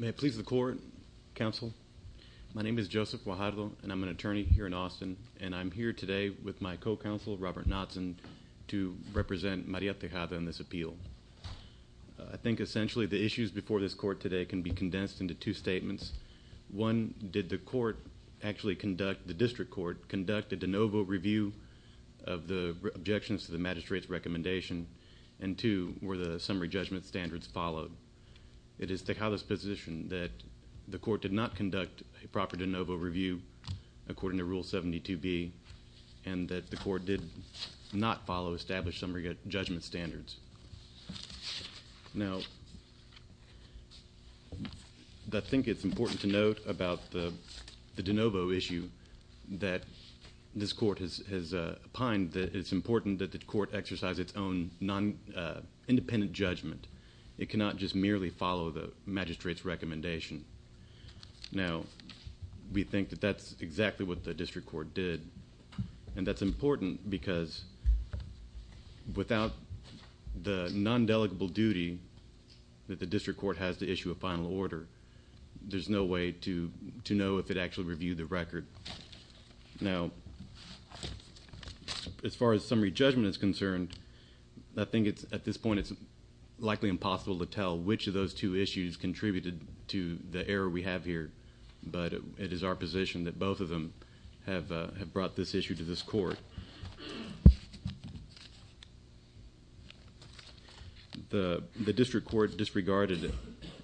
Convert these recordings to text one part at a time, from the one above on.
May it please the Court, Counsel. My name is Joseph Guajardo, and I'm an attorney here in Austin, and I'm here today with my co-counsel, Robert Knotson, to represent Maria Tejada in this appeal. I think essentially the issues before this court today can be condensed into two statements. One, did the District Court conduct a de novo review of the objections to the Magistrate's recommendation? And two, were the summary judgment standards followed? It is Tejada's position that the Court did not conduct a proper de novo review according to Rule 72B, and that the Court did not follow established summary judgment standards. Now, I think it's important to note about the de novo issue that this Court has opined that it's important that the Court exercise its own independent judgment. It cannot just merely follow the Magistrate's recommendation. Now, we think that that's exactly what the District Court did, and that's important because without the non-delegable duty that the District Court has to issue a final order, there's no way to know if it actually reviewed the record. Now, as far as summary judgment is concerned, I think at this point it's likely impossible to tell which of those two issues contributed to the error we have here, but it is our position that both of them have brought this issue to this Court. The District Court disregarded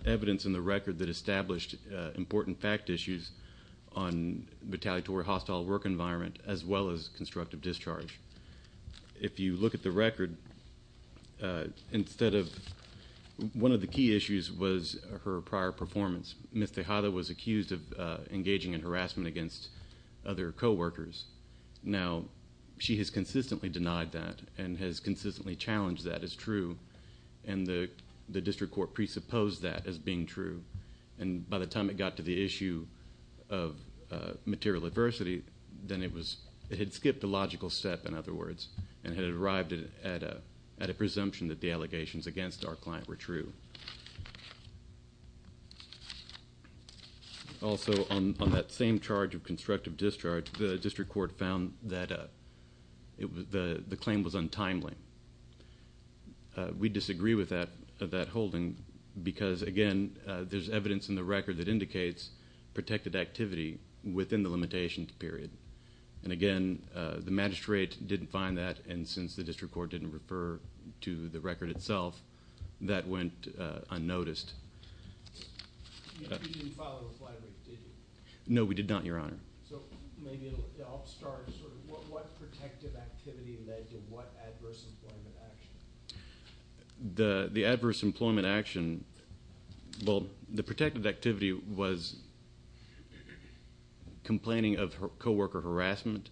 evidence in the record that established important fact issues on retaliatory hostile work environment as well as constructive discharge. If you look at the record, one of the key issues was her prior performance. Ms. Tejada was accused of engaging in harassment against other co-workers. Now, she has consistently denied that and has consistently challenged that as true, and the District Court presupposed that as being true. By the time it got to the issue of material adversity, then it had skipped a logical step, in other words, and it arrived at a presumption that the allegations against our client were true. Also, on that same charge of constructive discharge, the District Court found that the claim was untimely. We disagree with that holding because, again, there's evidence in the record that indicates protected activity within the limitation period, and again, the magistrate didn't find that and since the District Court didn't refer to the record itself, that went unnoticed. No, we did not, Your Honor. The adverse employment action, well, the protected activity was complaining of co-worker harassment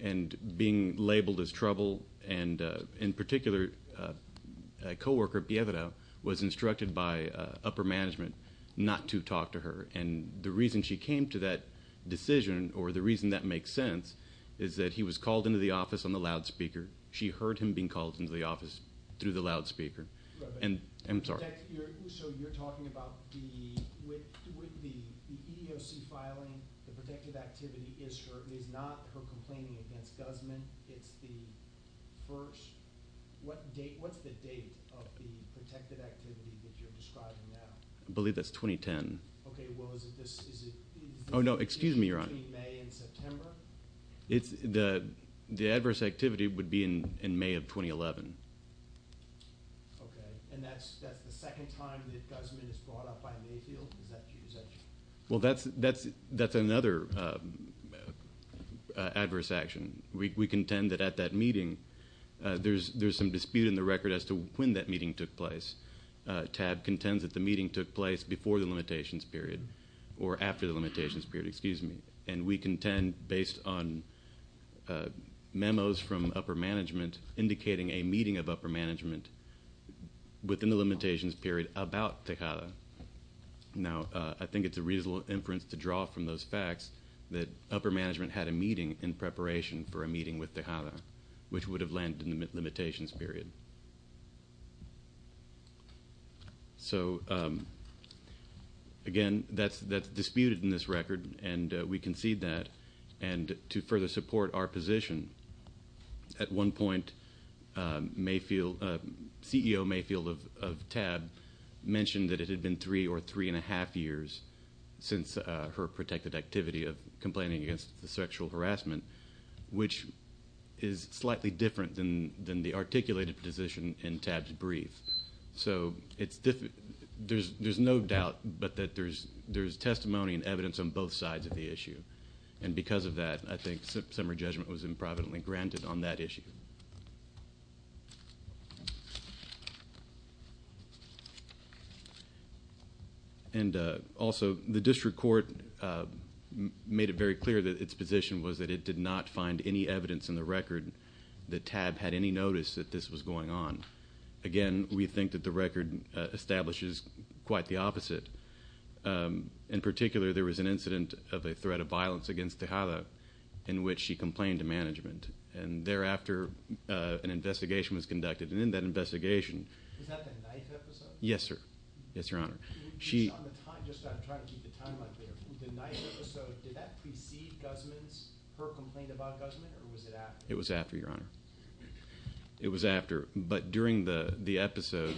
and being labeled as trouble, and in particular, a co-worker, Piedra, was instructed by upper management not to talk to her, and the reason she came to that decision, or the reason that makes sense, is that he was called into the office on the loudspeaker. She heard him being called into the office through the loudspeaker, and I'm sorry. I believe that's 2010. Oh, no, excuse me, Your Honor. The adverse activity would be in May of 2011. Okay, and that's the second time that Guzman is brought up by Mayfield? Well, that's another adverse action. We contend that at that meeting, there's some dispute in the record as to when that meeting took place. TAB contends that the meeting took place before the limitations period, or after the limitations period, excuse me, indicating a meeting of upper management within the limitations period about Tejada. Now, I think it's a reasonable inference to draw from those facts that upper management had a meeting in preparation for a meeting with Tejada, which would have landed in the limitations period. So, again, that's disputed in this record, and we concede that, and to further support our position, at one point, CEO Mayfield of TAB mentioned that it had been three or three and a half years since her protected activity of complaining against the sexual harassment, which is slightly different than the articulated position in TAB's brief. So, there's no doubt, but that there's testimony and evidence on both sides of the issue, and because of that, I think summary judgment was improvidently granted on that issue. And also, the district court made it very clear that its position was that it did not find any evidence in the record that TAB had any notice that this was going on. Again, we think that the record establishes quite the opposite. In particular, there was an incident of a threat of violence against Tejada in which she complained to management, and thereafter, an investigation was conducted, and in that investigation... Was that the ninth episode? Yes, sir. Yes, Your Honor. Just on the timeline, the ninth episode, did that precede her complaint about Guzman, or was it after? It was after, Your Honor. It was after, but during the episode,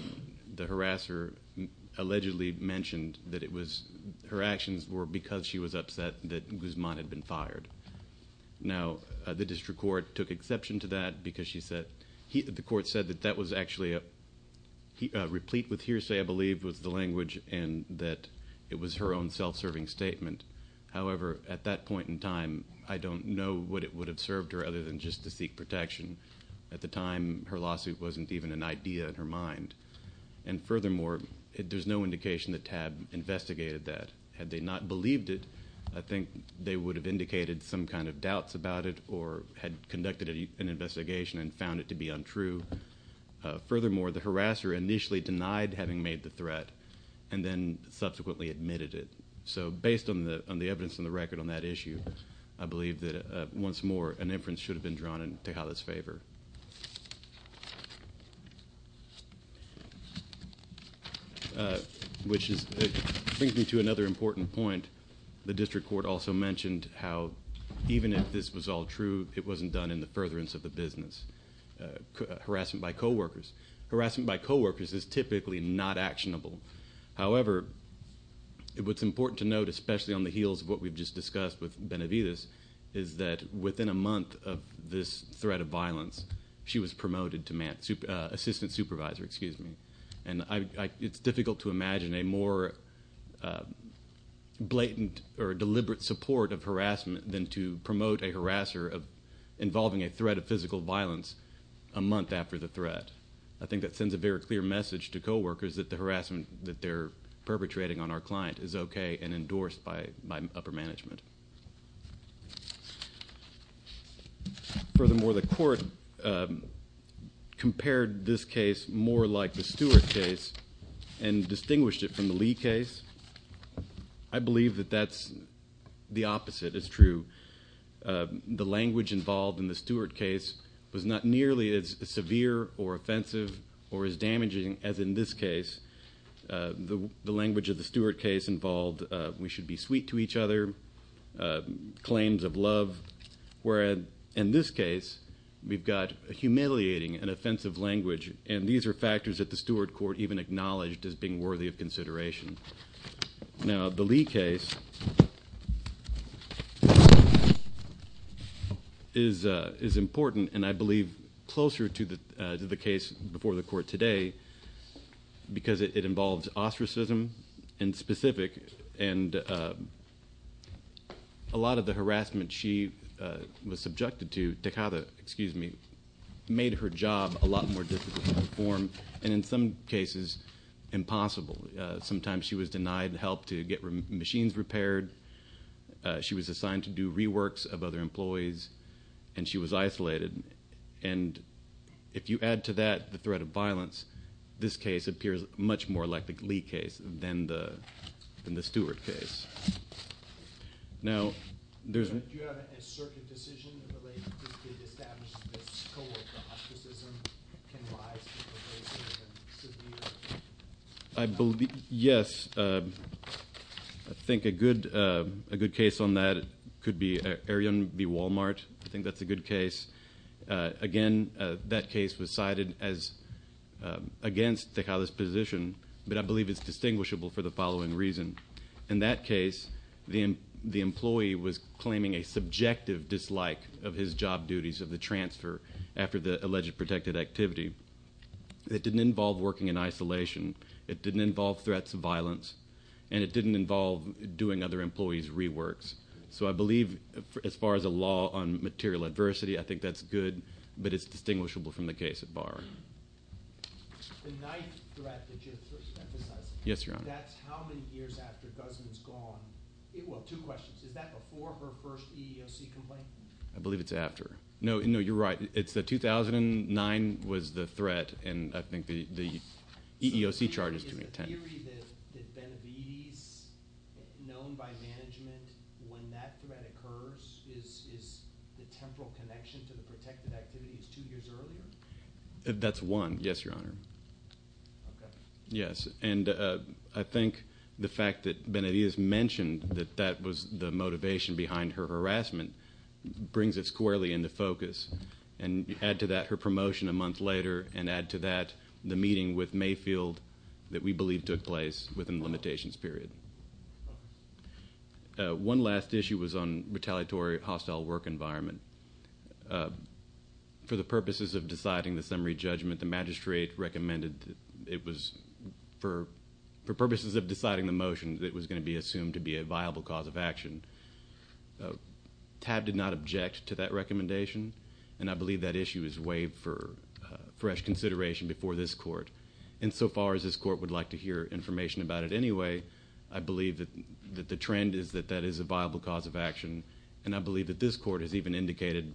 the harasser allegedly mentioned that her actions were because she was upset that Guzman had been fired. Now, the district court took exception to that because the court said that that was actually a replete with hearsay, I believe, was the language, and that it was her own self-serving statement. However, at that point in time, I don't know what it would have served her other than just to seek protection. At the time, her lawsuit wasn't even an idea in her mind, and furthermore, there's no indication that TAB investigated that. Had they not believed it, I think they would have indicated some kind of doubts about it or had conducted an investigation and found it to be untrue. Furthermore, the harasser initially denied having made the threat and then subsequently admitted it. So based on the evidence in the record on that issue, I believe that once more, which brings me to another important point. The district court also mentioned how even if this was all true, it wasn't done in the furtherance of the business. Harassment by coworkers. Harassment by coworkers is typically not actionable. However, what's important to note, especially on the heels of what we've just discussed with Benavides, is that within a month of this threat of violence, she was promoted to assistant supervisor. It's difficult to imagine a more blatant or deliberate support of harassment than to promote a harasser involving a threat of physical violence a month after the threat. I think that sends a very clear message to coworkers that the harassment that they're perpetrating on our client is okay and endorsed by upper management. Furthermore, the court compared this case more like the Stewart case and distinguished it from the Lee case. I believe that that's the opposite. It's true. The language involved in the Stewart case was not nearly as severe or offensive or as damaging as in this case. The language of the Stewart case involved we should be sweet to each other, claims of love, whereas in this case, we've got humiliating and offensive language. These are factors that the Stewart court Now, the Lee case is important and I believe closer to the case before the court today because it involves ostracism in specific and a lot of the harassment she was subjected to, Tejada, excuse me, made her job a lot more difficult to perform and in some cases impossible. Sometimes she was denied help to get machines repaired. She was assigned to do reworks of other employees and she was isolated. And if you add to that the threat of violence, this case appears much more like the Lee case than the Stewart case. Now, there's... I believe, yes, I think a good case on that could be Arion v. Walmart. I think that's a good case. Again, that case was cited as against Tejada's position, but I believe it's distinguishable for the following reason. In that case, the employee was claiming a subjective dislike of his job duties of the transfer after the alleged protected activity. It didn't involve working in isolation. It didn't involve threats of violence and it didn't involve doing other employees' reworks. So I believe as far as a law on material adversity, I think that's good, but it's distinguishable from the case at bar. The ninth threat that you're emphasizing, that's how many years after Guzman's gone. Well, two questions. Is that before her first EEOC complaint? I believe it's after. No, you're right. It's the 2009 was the threat and I think the EEOC charge is 2010. Is the theory that Benavides, known by management, when that threat occurs, is the temporal connection to the protected activities two years earlier? That's one. Yes, Your Honor. Yes, and I think the fact that Benavides mentioned that that was the motivation behind her harassment brings it squarely into focus. And add to that her promotion a month later and add to that the meeting with Mayfield that we believe took place within the limitations period. One last issue was on retaliatory hostile work environment. For the purposes of deciding the summary judgment, the magistrate recommended it was for purposes of deciding the motion that it was going to be assumed to be a viable cause of action. TAB did not object to that recommendation and I believe that issue is waived for fresh consideration before this court. Insofar as this court would like to hear information about it anyway, I believe that the trend is that that is a viable cause of action and I believe that this court has even indicated,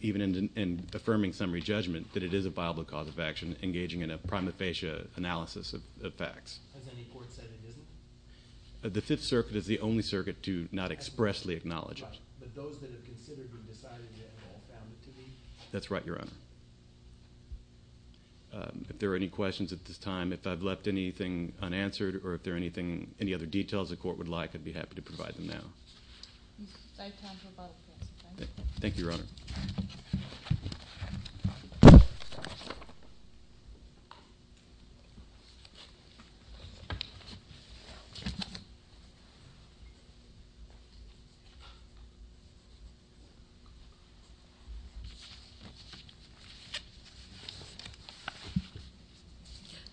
even in affirming summary judgment, that it is a viable cause of action engaging in a prima facie analysis of facts. Has any court said it isn't? The Fifth Circuit is the only circuit to not expressly acknowledge it. But those that have considered or decided that have found it to be? That's right, Your Honor. If there are any questions at this time, if I've left anything unanswered or if there are any other details the court would like, I'd be happy to provide them now. Thank you, Your Honor.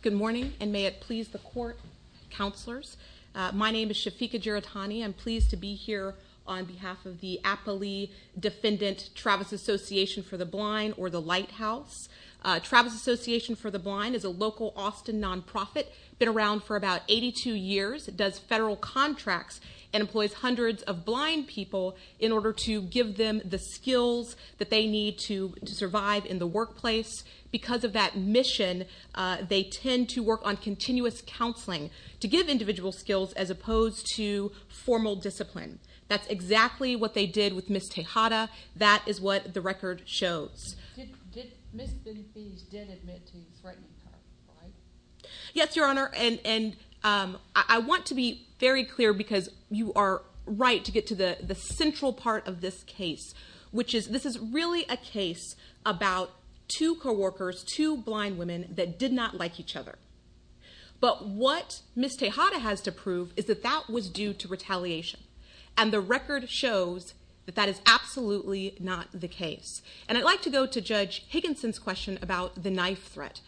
Good morning, and may it please the court, counselors. My name is Shafiqa Giratani. I'm pleased to be here on behalf of the Apolli Defendant Travis Association for the Blind, or the Lighthouse. Travis Association for the Blind is a local Austin nonprofit, been around for about 82 years, does federal contracts, and employs hundreds of blind people in order to give them the skills that they need to survive in the workplace. Because of that mission, they tend to work on continuous counseling to give individual skills as opposed to formal discipline. That's exactly what they did with Ms. Tejada. That is what the record shows. Ms. Benfiz did admit to threatening her, right? Yes, Your Honor, and I want to be very clear because you are right to get to the central part of this case, which is this is really a case about two co-workers, two blind women that did not like each other. But what Ms. Tejada has to prove is that that was due to retaliation, and the record shows that that is absolutely not the case. And I'd like to go to Judge Higginson's question about the knife threat.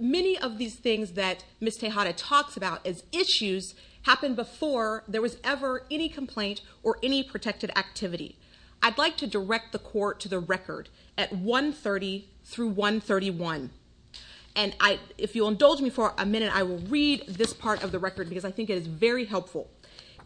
Many of these things that Ms. Tejada talks about as issues happen before there was ever any complaint or any protected activity. I'd like to direct the Court to the record at 130 through 131. And if you'll indulge me for a minute, I will read this part of the record because I think it is very helpful.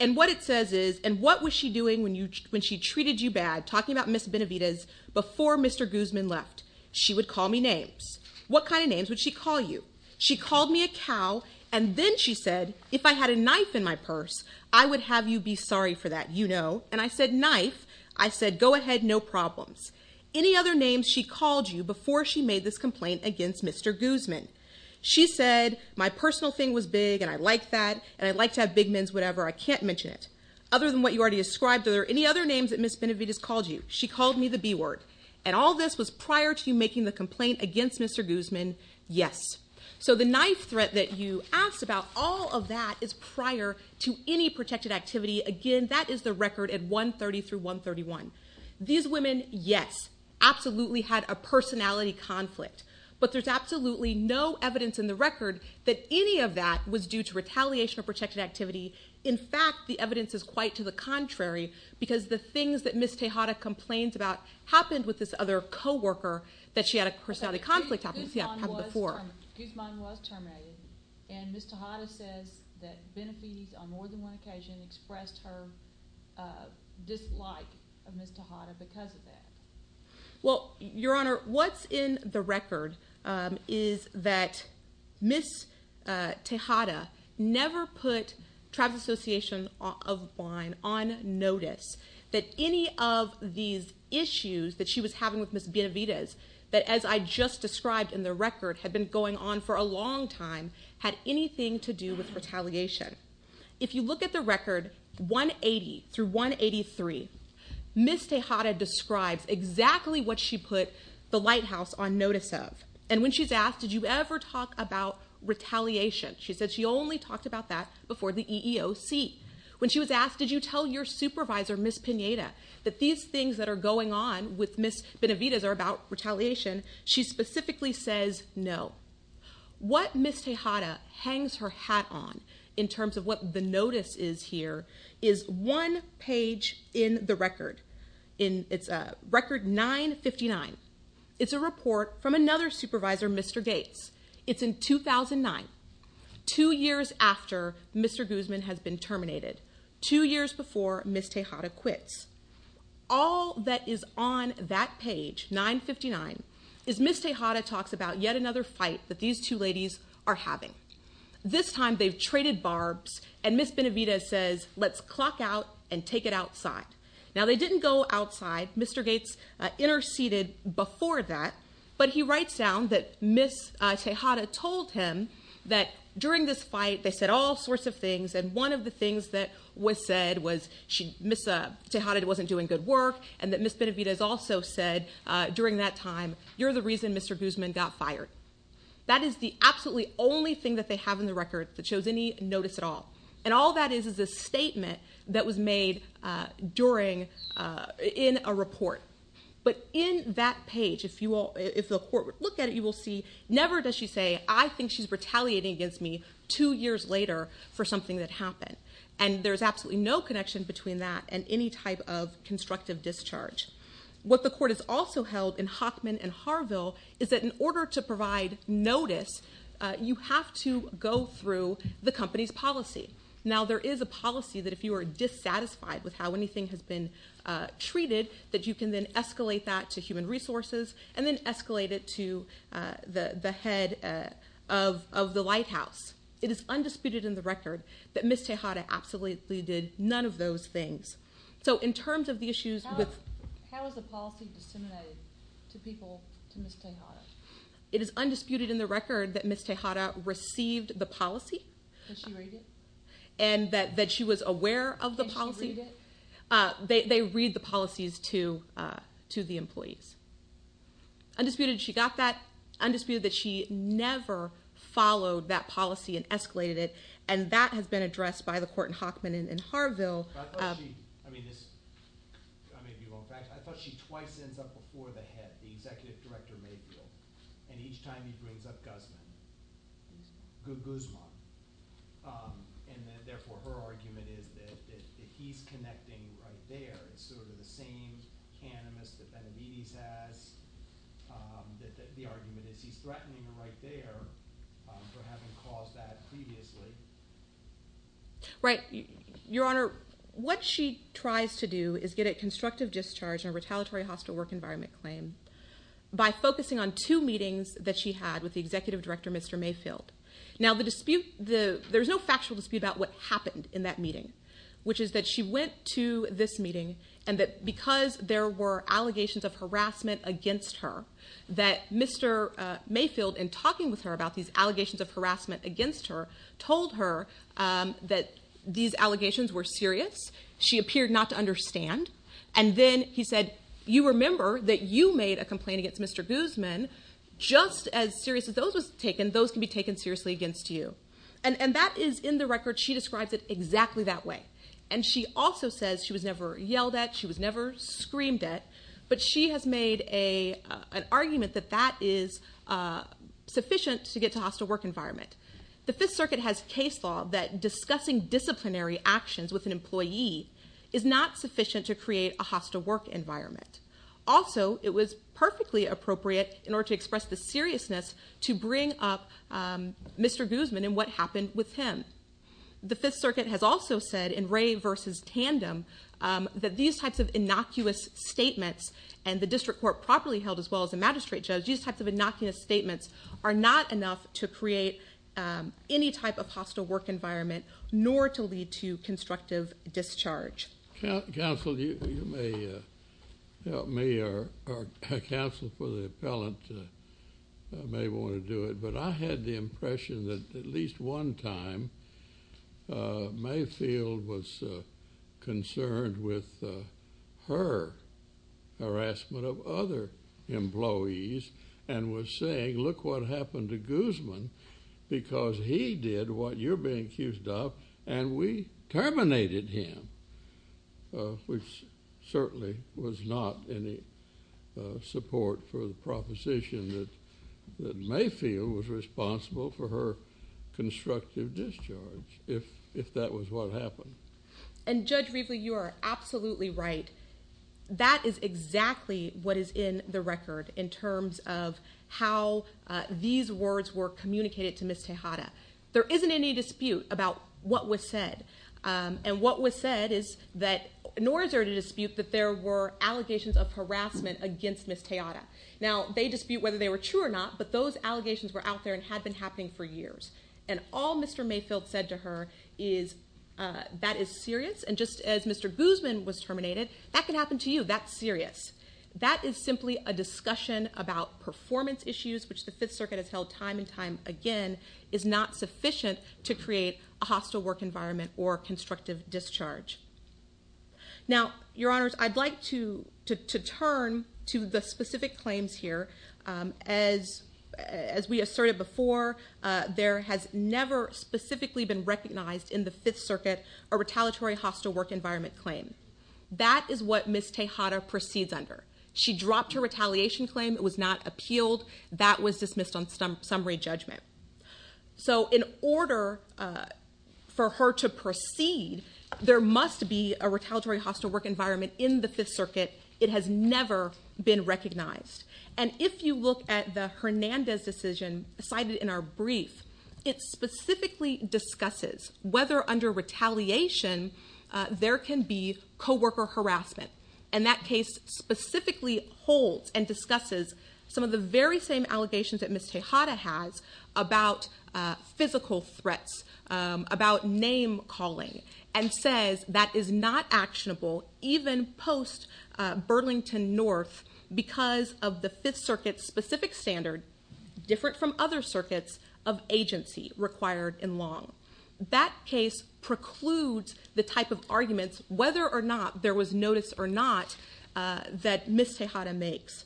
And what it says is, and what was she doing when she treated you bad, talking about Ms. Benavidez, before Mr. Guzman left? She would call me names. What kind of names would she call you? She called me a cow, and then she said, if I had a knife in my purse, I would have you be sorry for that, you know. And I said, knife? I said, go ahead, no problems. Any other names she called you before she made this complaint against Mr. Guzman? She said, my personal thing was big, and I like that, and I'd like to have big men's whatever, I can't mention it. Other than what you already ascribed, are there any other names that Ms. Benavidez called you? She called me the B word. And all this was prior to you making the complaint against Mr. Guzman? Yes. So the knife threat that you asked about, all of that is prior to any protected activity. Again, that is the record at 130 through 131. These women, yes, absolutely had a personality conflict. But there's absolutely no evidence in the record that any of that was due to retaliation or protected activity. In fact, the evidence is quite to the contrary, because the things that Ms. Tejada complained about happened with this other co-worker that she had a personality conflict about. Guzman was terminated, and Ms. Tejada says that Benavidez on more than one occasion expressed her dislike of Ms. Tejada because of that. Well, Your Honor, what's in the record is that Ms. Tejada never put Tribes Association of Vine on notice that any of these issues that she was having with Ms. Benavidez, that as I just described in the record had been going on for a long time, had anything to do with retaliation. If you look at the record 180 through 183, Ms. Tejada describes exactly what she put the Lighthouse on notice of. And when she's asked, did you ever talk about retaliation, she said she only talked about that before the EEOC. When she was asked, did you tell your supervisor, Ms. Pineda, that these things that are going on with Ms. Benavidez are about retaliation, she specifically says no. What Ms. Tejada hangs her hat on in terms of what the notice is here is one page in the record. It's record 959. It's a report from another supervisor, Mr. Gates. It's in 2009, two years after Mr. Guzman has been terminated, two years before Ms. Tejada quits. All that is on that page, 959, is Ms. Tejada talks about yet another fight that these two ladies are having. This time they've traded barbs, and Ms. Benavidez says, let's clock out and take it outside. Now, they didn't go outside. Mr. Gates interceded before that. But he writes down that Ms. Tejada told him that during this fight they said all sorts of things, and one of the things that was said was Ms. Tejada wasn't doing good work, and that Ms. Benavidez also said during that time, you're the reason Mr. Guzman got fired. That is the absolutely only thing that they have in the record that shows any notice at all. And all that is is a statement that was made in a report. But in that page, if the court would look at it, you will see never does she say, I think she's retaliating against me two years later for something that happened. And there's absolutely no connection between that and any type of constructive discharge. What the court has also held in Hockman and Harville is that in order to provide notice, you have to go through the company's policy. Now, there is a policy that if you are dissatisfied with how anything has been treated, that you can then escalate that to human resources and then escalate it to the head of the lighthouse. It is undisputed in the record that Ms. Tejada absolutely did none of those things. So in terms of the issues with... How is the policy disseminated to people to Ms. Tejada? It is undisputed in the record that Ms. Tejada received the policy. Did she read it? And that she was aware of the policy. Did she read it? They read the policies to the employees. Undisputed she got that. Undisputed that she never followed that policy and escalated it. And that has been addressed by the court in Hockman and in Harville. I thought she twice ends up before the head, the executive director, and each time he brings up Guzman. Guzman. And therefore her argument is that he's connecting right there. It's sort of the same cannabis that Benavides has. The argument is he's threatening her right there for having caused that previously. Right. Your Honor, what she tries to do is get a constructive discharge on a retaliatory hostile work environment claim by focusing on two meetings that she had with the executive director, Mr. Mayfield. Now there's no factual dispute about what happened in that meeting, which is that she went to this meeting and that because there were allegations of harassment against her, that Mr. Mayfield, in talking with her about these allegations of harassment against her, told her that these allegations were serious. She appeared not to understand. And then he said, you remember that you made a complaint against Mr. Guzman. Just as serious as those were taken, those can be taken seriously against you. And that is in the record. She describes it exactly that way. And she also says she was never yelled at, she was never screamed at, but she has made an argument that that is sufficient to get to a hostile work environment. The Fifth Circuit has case law that discussing disciplinary actions with an employee is not sufficient to create a hostile work environment. Also, it was perfectly appropriate, in order to express the seriousness, to bring up Mr. Guzman and what happened with him. The Fifth Circuit has also said, in Ray v. Tandem, that these types of innocuous statements, and the district court properly held as well as the magistrate judge, these types of innocuous statements are not enough to create any type of hostile work environment, nor to lead to constructive discharge. Counsel, you may help me, or counsel for the appellant may want to do it, but I had the impression that at least one time, Mayfield was concerned with her harassment of other employees, and was saying, look what happened to Guzman, because he did what you're being accused of, and we terminated him. Which certainly was not any support for the proposition that Mayfield was responsible for her constructive discharge, if that was what happened. And Judge Riefle, you are absolutely right. That is exactly what is in the record, in terms of how these words were communicated to Ms. Tejada. There isn't any dispute about what was said, and what was said is that, nor is there a dispute that there were allegations of harassment against Ms. Tejada. Now, they dispute whether they were true or not, but those allegations were out there and had been happening for years. And all Mr. Mayfield said to her is, that is serious, and just as Mr. Guzman was terminated, that can happen to you, that's serious. That is simply a discussion about performance issues, which the Fifth Circuit has held time and time again, is not sufficient to create a hostile work environment or constructive discharge. Now, Your Honors, I'd like to turn to the specific claims here. As we asserted before, there has never specifically been recognized in the Fifth Circuit a retaliatory hostile work environment claim. That is what Ms. Tejada proceeds under. She dropped her retaliation claim, it was not appealed, that was dismissed on summary judgment. So, in order for her to proceed, there must be a retaliatory hostile work environment in the Fifth Circuit. It has never been recognized. And if you look at the Hernandez decision cited in our brief, it specifically discusses whether under retaliation, there can be co-worker harassment. And that case specifically holds and discusses some of the very same allegations that Ms. Tejada has about physical threats, about name calling, and says that is not actionable, even post Burlington North, because of the Fifth Circuit's specific standard, different from other circuits, of agency required in law. That case precludes the type of arguments, whether or not there was notice or not, that Ms. Tejada makes.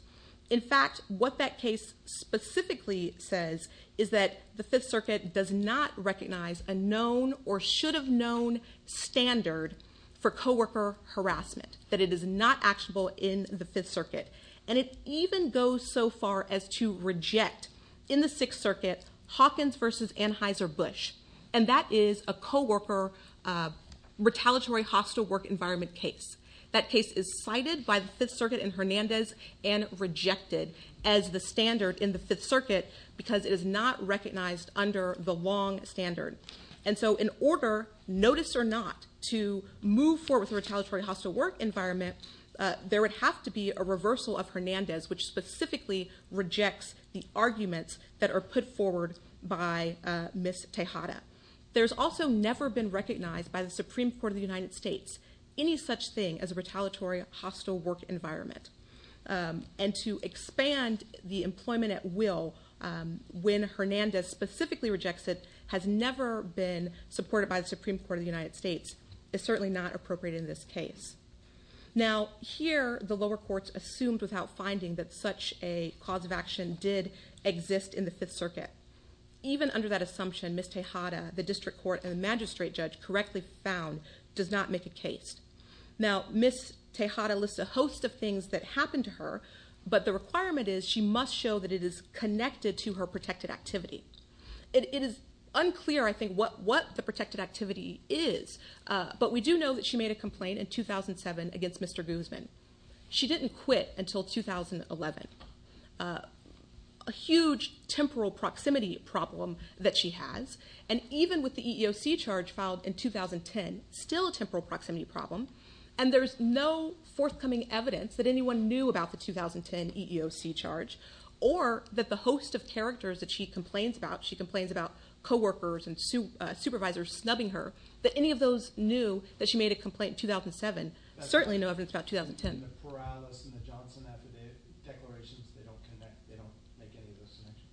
In fact, what that case specifically says is that the Fifth Circuit does not recognize a known or should have known standard for co-worker harassment, that it is not actionable in the Fifth Circuit. And it even goes so far as to reject, in the Sixth Circuit, Hawkins versus Anheuser-Busch. And that is a co-worker retaliatory hostile work environment case. That case is cited by the Fifth Circuit in Hernandez and rejected as the standard in the Fifth Circuit, because it is not recognized under the long standard. And so in order, notice or not, to move forward with a retaliatory hostile work environment, there would have to be a reversal of Hernandez, which specifically rejects the arguments that are put forward by Ms. Tejada. There's also never been recognized by the Supreme Court of the United States any such thing as a retaliatory hostile work environment. And to expand the employment at will when Hernandez specifically rejects it has never been supported by the Supreme Court of the United States is certainly not appropriate in this case. Now, here the lower courts assumed without finding that such a cause of action did exist in the Fifth Circuit. Even under that assumption, Ms. Tejada, the district court, and the magistrate judge correctly found, does not make a case. Now, Ms. Tejada lists a host of things that happened to her, but the requirement is she must show that it is connected to her protected activity. It is unclear, I think, what the protected activity is, but we do know that she made a complaint in 2007 against Mr. Guzman. She didn't quit until 2011. A huge temporal proximity problem that she has, and even with the EEOC charge filed in 2010, still a temporal proximity problem, and there's no forthcoming evidence that anyone knew about the 2010 EEOC charge or that the host of characters that she complains about, she complains about coworkers and supervisors snubbing her, that any of those knew that she made a complaint in 2007, certainly no evidence about 2010. And the Perales and the Johnson, after the declarations, they don't make any of those submissions?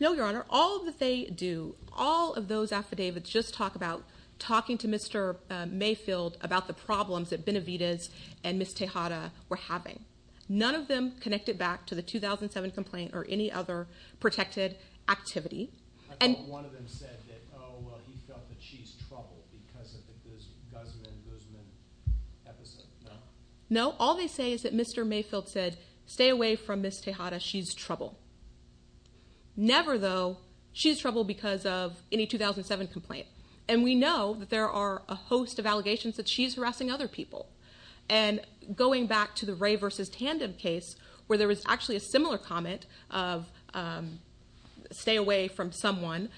No, Your Honor. All that they do, all of those affidavits just talk about talking to Mr. Mayfield about the problems that Benavides and Ms. Tejada were having. None of them connected back to the 2007 complaint or any other protected activity. I thought one of them said that, oh, well, he felt that she's trouble because of the Guzman-Guzman episode. No. No. All they say is that Mr. Mayfield said, stay away from Ms. Tejada. She's trouble. Never, though, she's trouble because of any 2007 complaint. And we know that there are a host of allegations that she's harassing other people. And going back to the Ray v. Tandem case, where there was actually a similar comment of stay away from someone,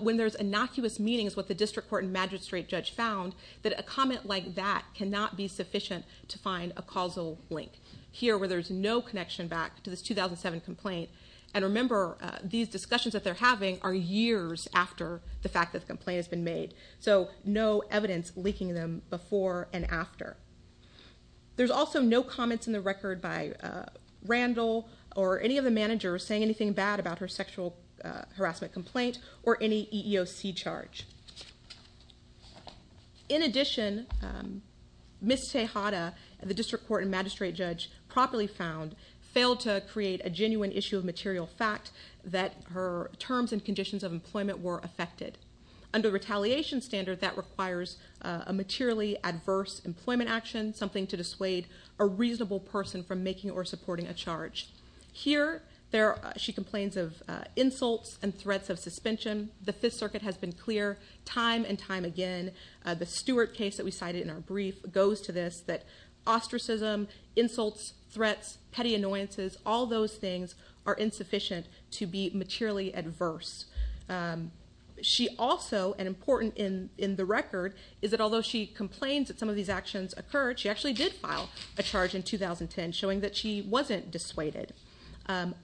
when there's innocuous meetings with the district court and magistrate judge found that a comment like that cannot be sufficient to find a causal link. Here, where there's no connection back to this 2007 complaint. And remember, these discussions that they're having are years after the fact that the complaint has been made. So no evidence leaking them before and after. There's also no comments in the record by Randall or any of the managers saying anything bad about her sexual harassment complaint or any EEOC charge. In addition, Ms. Tejada, the district court and magistrate judge, properly found, failed to create a genuine issue of material fact that her terms and conditions of employment were affected. Under retaliation standard, that requires a materially adverse employment action, something to dissuade a reasonable person from making or supporting a charge. Here, she complains of insults and threats of suspension. The Fifth Circuit has been clear time and time again. The Stewart case that we cited in our brief goes to this, that ostracism, insults, threats, petty annoyances, all those things are insufficient to be materially adverse. She also, and important in the record, is that although she complains that some of these actions occurred, she actually did file a charge in 2010 showing that she wasn't dissuaded.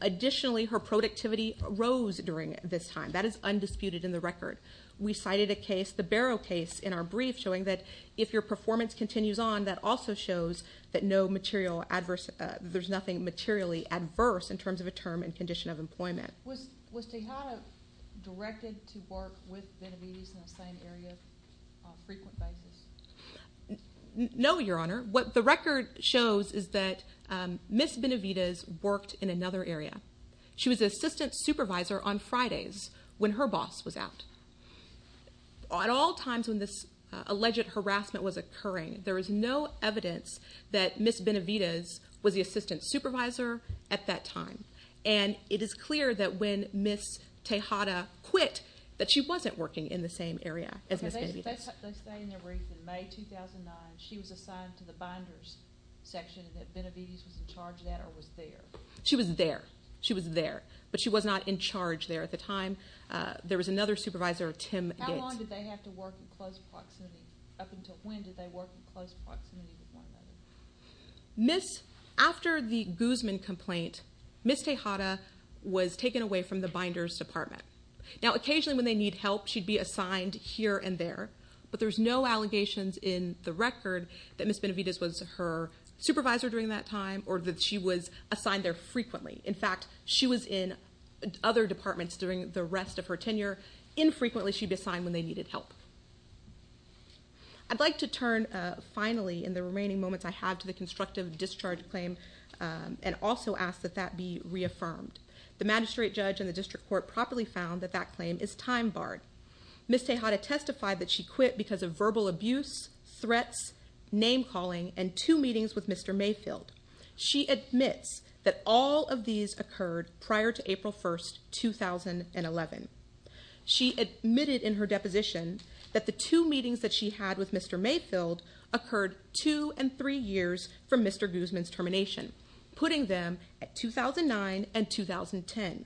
Additionally, her productivity rose during this time. That is undisputed in the record. We cited a case, the Barrow case in our brief, showing that if your performance continues on, that also shows that there's nothing materially adverse in terms of a term and condition of employment. Was Tejada directed to work with Benavides in the same area on a frequent basis? No, Your Honor. What the record shows is that Ms. Benavides worked in another area. She was the assistant supervisor on Fridays when her boss was out. At all times when this alleged harassment was occurring, there was no evidence that Ms. Benavides was the assistant supervisor at that time. And it is clear that when Ms. Tejada quit that she wasn't working in the same area as Ms. Benavides. They say in their brief in May 2009 she was assigned to the binders section, and that Benavides was in charge of that or was there? She was there. She was there. But she was not in charge there at the time. There was another supervisor, Tim Yates. How long did they have to work in close proximity? Up until when did they work in close proximity with one another? Miss, after the Guzman complaint, Ms. Tejada was taken away from the binders department. Now, occasionally when they need help, she'd be assigned here and there. But there's no allegations in the record that Ms. Benavides was her supervisor during that time or that she was assigned there frequently. In fact, she was in other departments during the rest of her tenure. Infrequently she'd be assigned when they needed help. I'd like to turn finally in the remaining moments I have to the constructive discharge claim and also ask that that be reaffirmed. The magistrate judge and the district court properly found that that claim is time barred. Ms. Tejada testified that she quit because of verbal abuse, threats, name calling, and two meetings with Mr. Mayfield. She admits that all of these occurred prior to April 1, 2011. She admitted in her deposition that the two meetings that she had with Mr. Mayfield occurred two and three years from Mr. Guzman's termination, putting them at 2009 and 2010.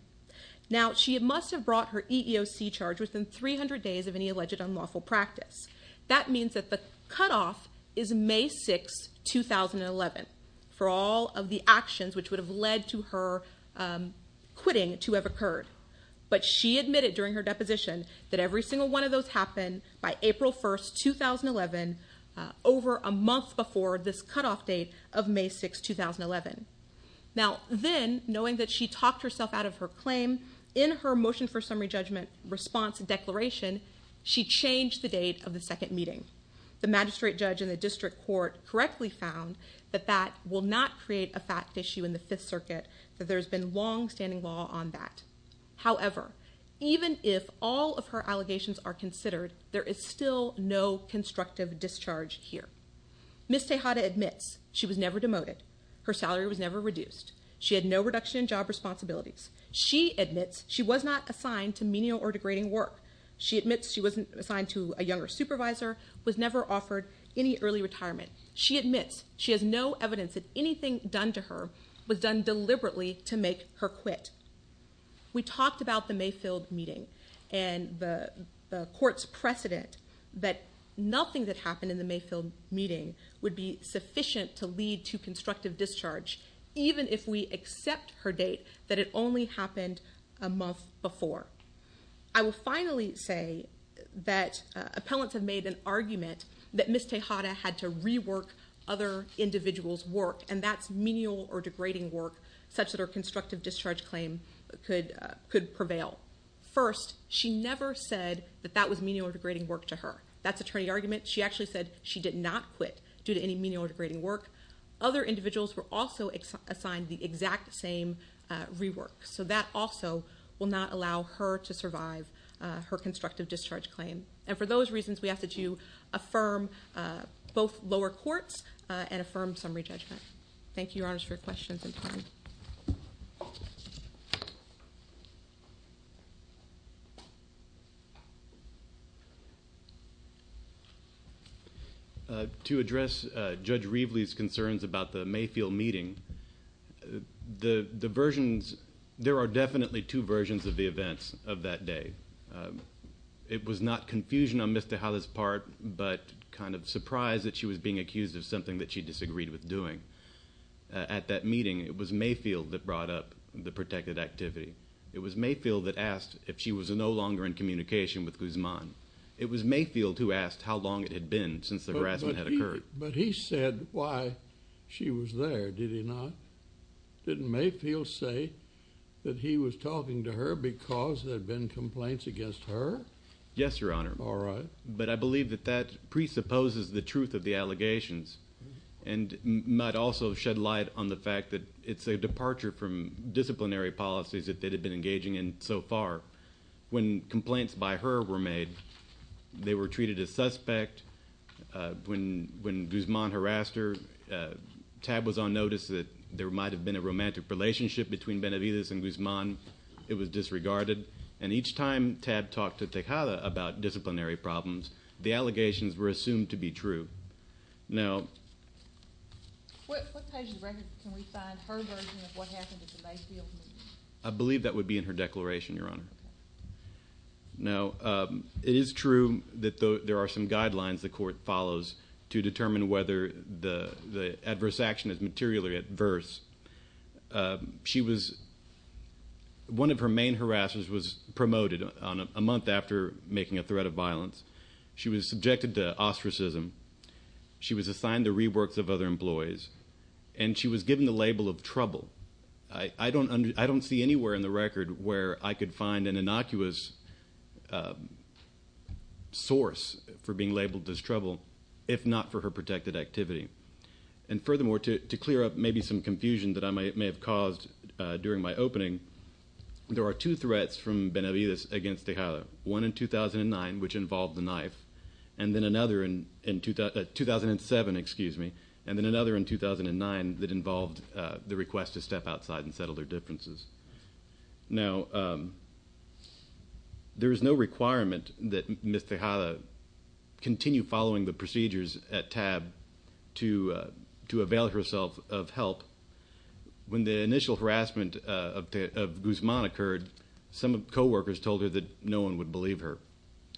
Now, she must have brought her EEOC charge within 300 days of any alleged unlawful practice. That means that the cutoff is May 6, 2011 for all of the actions which would have led to her quitting to have occurred. But she admitted during her deposition that every single one of those happened by April 1, 2011, over a month before this cutoff date of May 6, 2011. Now, then, knowing that she talked herself out of her claim, in her motion for summary judgment response declaration, she changed the date of the second meeting. The magistrate judge and the district court correctly found that that will not create a fact issue in the Fifth Circuit, that there's been longstanding law on that. However, even if all of her allegations are considered, there is still no constructive discharge here. Ms. Tejada admits she was never demoted, her salary was never reduced, she had no reduction in job responsibilities. She admits she was not assigned to menial or degrading work. She admits she wasn't assigned to a younger supervisor, was never offered any early retirement. She admits she has no evidence that anything done to her was done deliberately to make her quit. We talked about the Mayfield meeting and the court's precedent that nothing that happened in the Mayfield meeting would be sufficient to lead to constructive discharge, even if we accept her date that it only happened a month before. I will finally say that appellants have made an argument that Ms. Tejada had to rework other individuals' work, and that's menial or degrading work, such that her constructive discharge claim could prevail. First, she never said that that was menial or degrading work to her. That's attorney argument. She actually said she did not quit due to any menial or degrading work. Other individuals were also assigned the exact same rework, so that also will not allow her to survive her constructive discharge claim. And for those reasons, we ask that you affirm both lower courts and affirm summary judgment. Thank you, Your Honors, for your questions and time. Thank you. To address Judge Reveley's concerns about the Mayfield meeting, the versions, there are definitely two versions of the events of that day. It was not confusion on Ms. Tejada's part, but kind of surprise that she was being accused of something that she disagreed with doing at that meeting. It was Mayfield that brought up the protected activity. It was Mayfield that asked if she was no longer in communication with Guzman. It was Mayfield who asked how long it had been since the harassment had occurred. But he said why she was there, did he not? Didn't Mayfield say that he was talking to her because there had been complaints against her? Yes, Your Honor. All right. But I believe that that presupposes the truth of the allegations and might also shed light on the fact that it's a departure from disciplinary policies that they had been engaging in so far. When complaints by her were made, they were treated as suspect. When Guzman harassed her, TAB was on notice that there might have been a romantic relationship between Benavides and Guzman. It was disregarded. And each time TAB talked to Tejada about disciplinary problems, the allegations were assumed to be true. Now, What page of the record can we find her version of what happened at the Mayfield meeting? I believe that would be in her declaration, Your Honor. Now, it is true that there are some guidelines the court follows to determine whether the adverse action is materially adverse. She was, one of her main harassers was promoted on a month after making a threat of violence. She was subjected to ostracism. She was assigned the reworks of other employees, and she was given the label of trouble. I don't see anywhere in the record where I could find an innocuous source for being labeled as trouble, if not for her protected activity. And furthermore, to clear up maybe some confusion that I may have caused during my opening, there are two threats from Benavides against Tejada, one in 2009, which involved the knife, and then another in 2007, excuse me, and then another in 2009 that involved the request to step outside and settle their differences. Now, there is no requirement that Ms. Tejada continue following the procedures at TAB to avail herself of help. When the initial harassment of Guzman occurred, some co-workers told her that no one would believe her,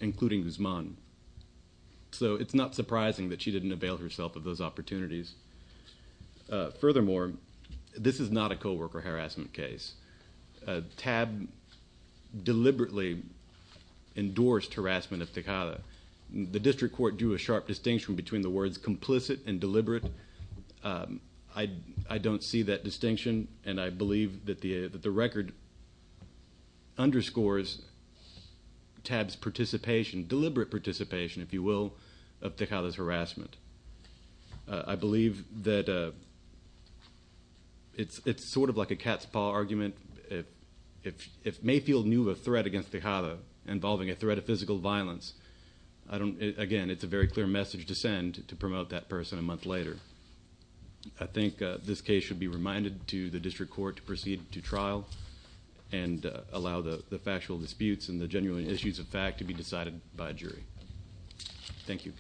including Guzman. So it's not surprising that she didn't avail herself of those opportunities. Furthermore, this is not a co-worker harassment case. TAB deliberately endorsed harassment of Tejada. The district court drew a sharp distinction between the words complicit and deliberate. I don't see that distinction, and I believe that the record underscores TAB's participation, deliberate participation, if you will, of Tejada's harassment. I believe that it's sort of like a cat's paw argument. It may feel new, a threat against Tejada involving a threat of physical violence. Again, it's a very clear message to send to promote that person a month later. I think this case should be reminded to the district court to proceed to trial and allow the factual disputes and the genuine issues of fact to be decided by a jury. Thank you.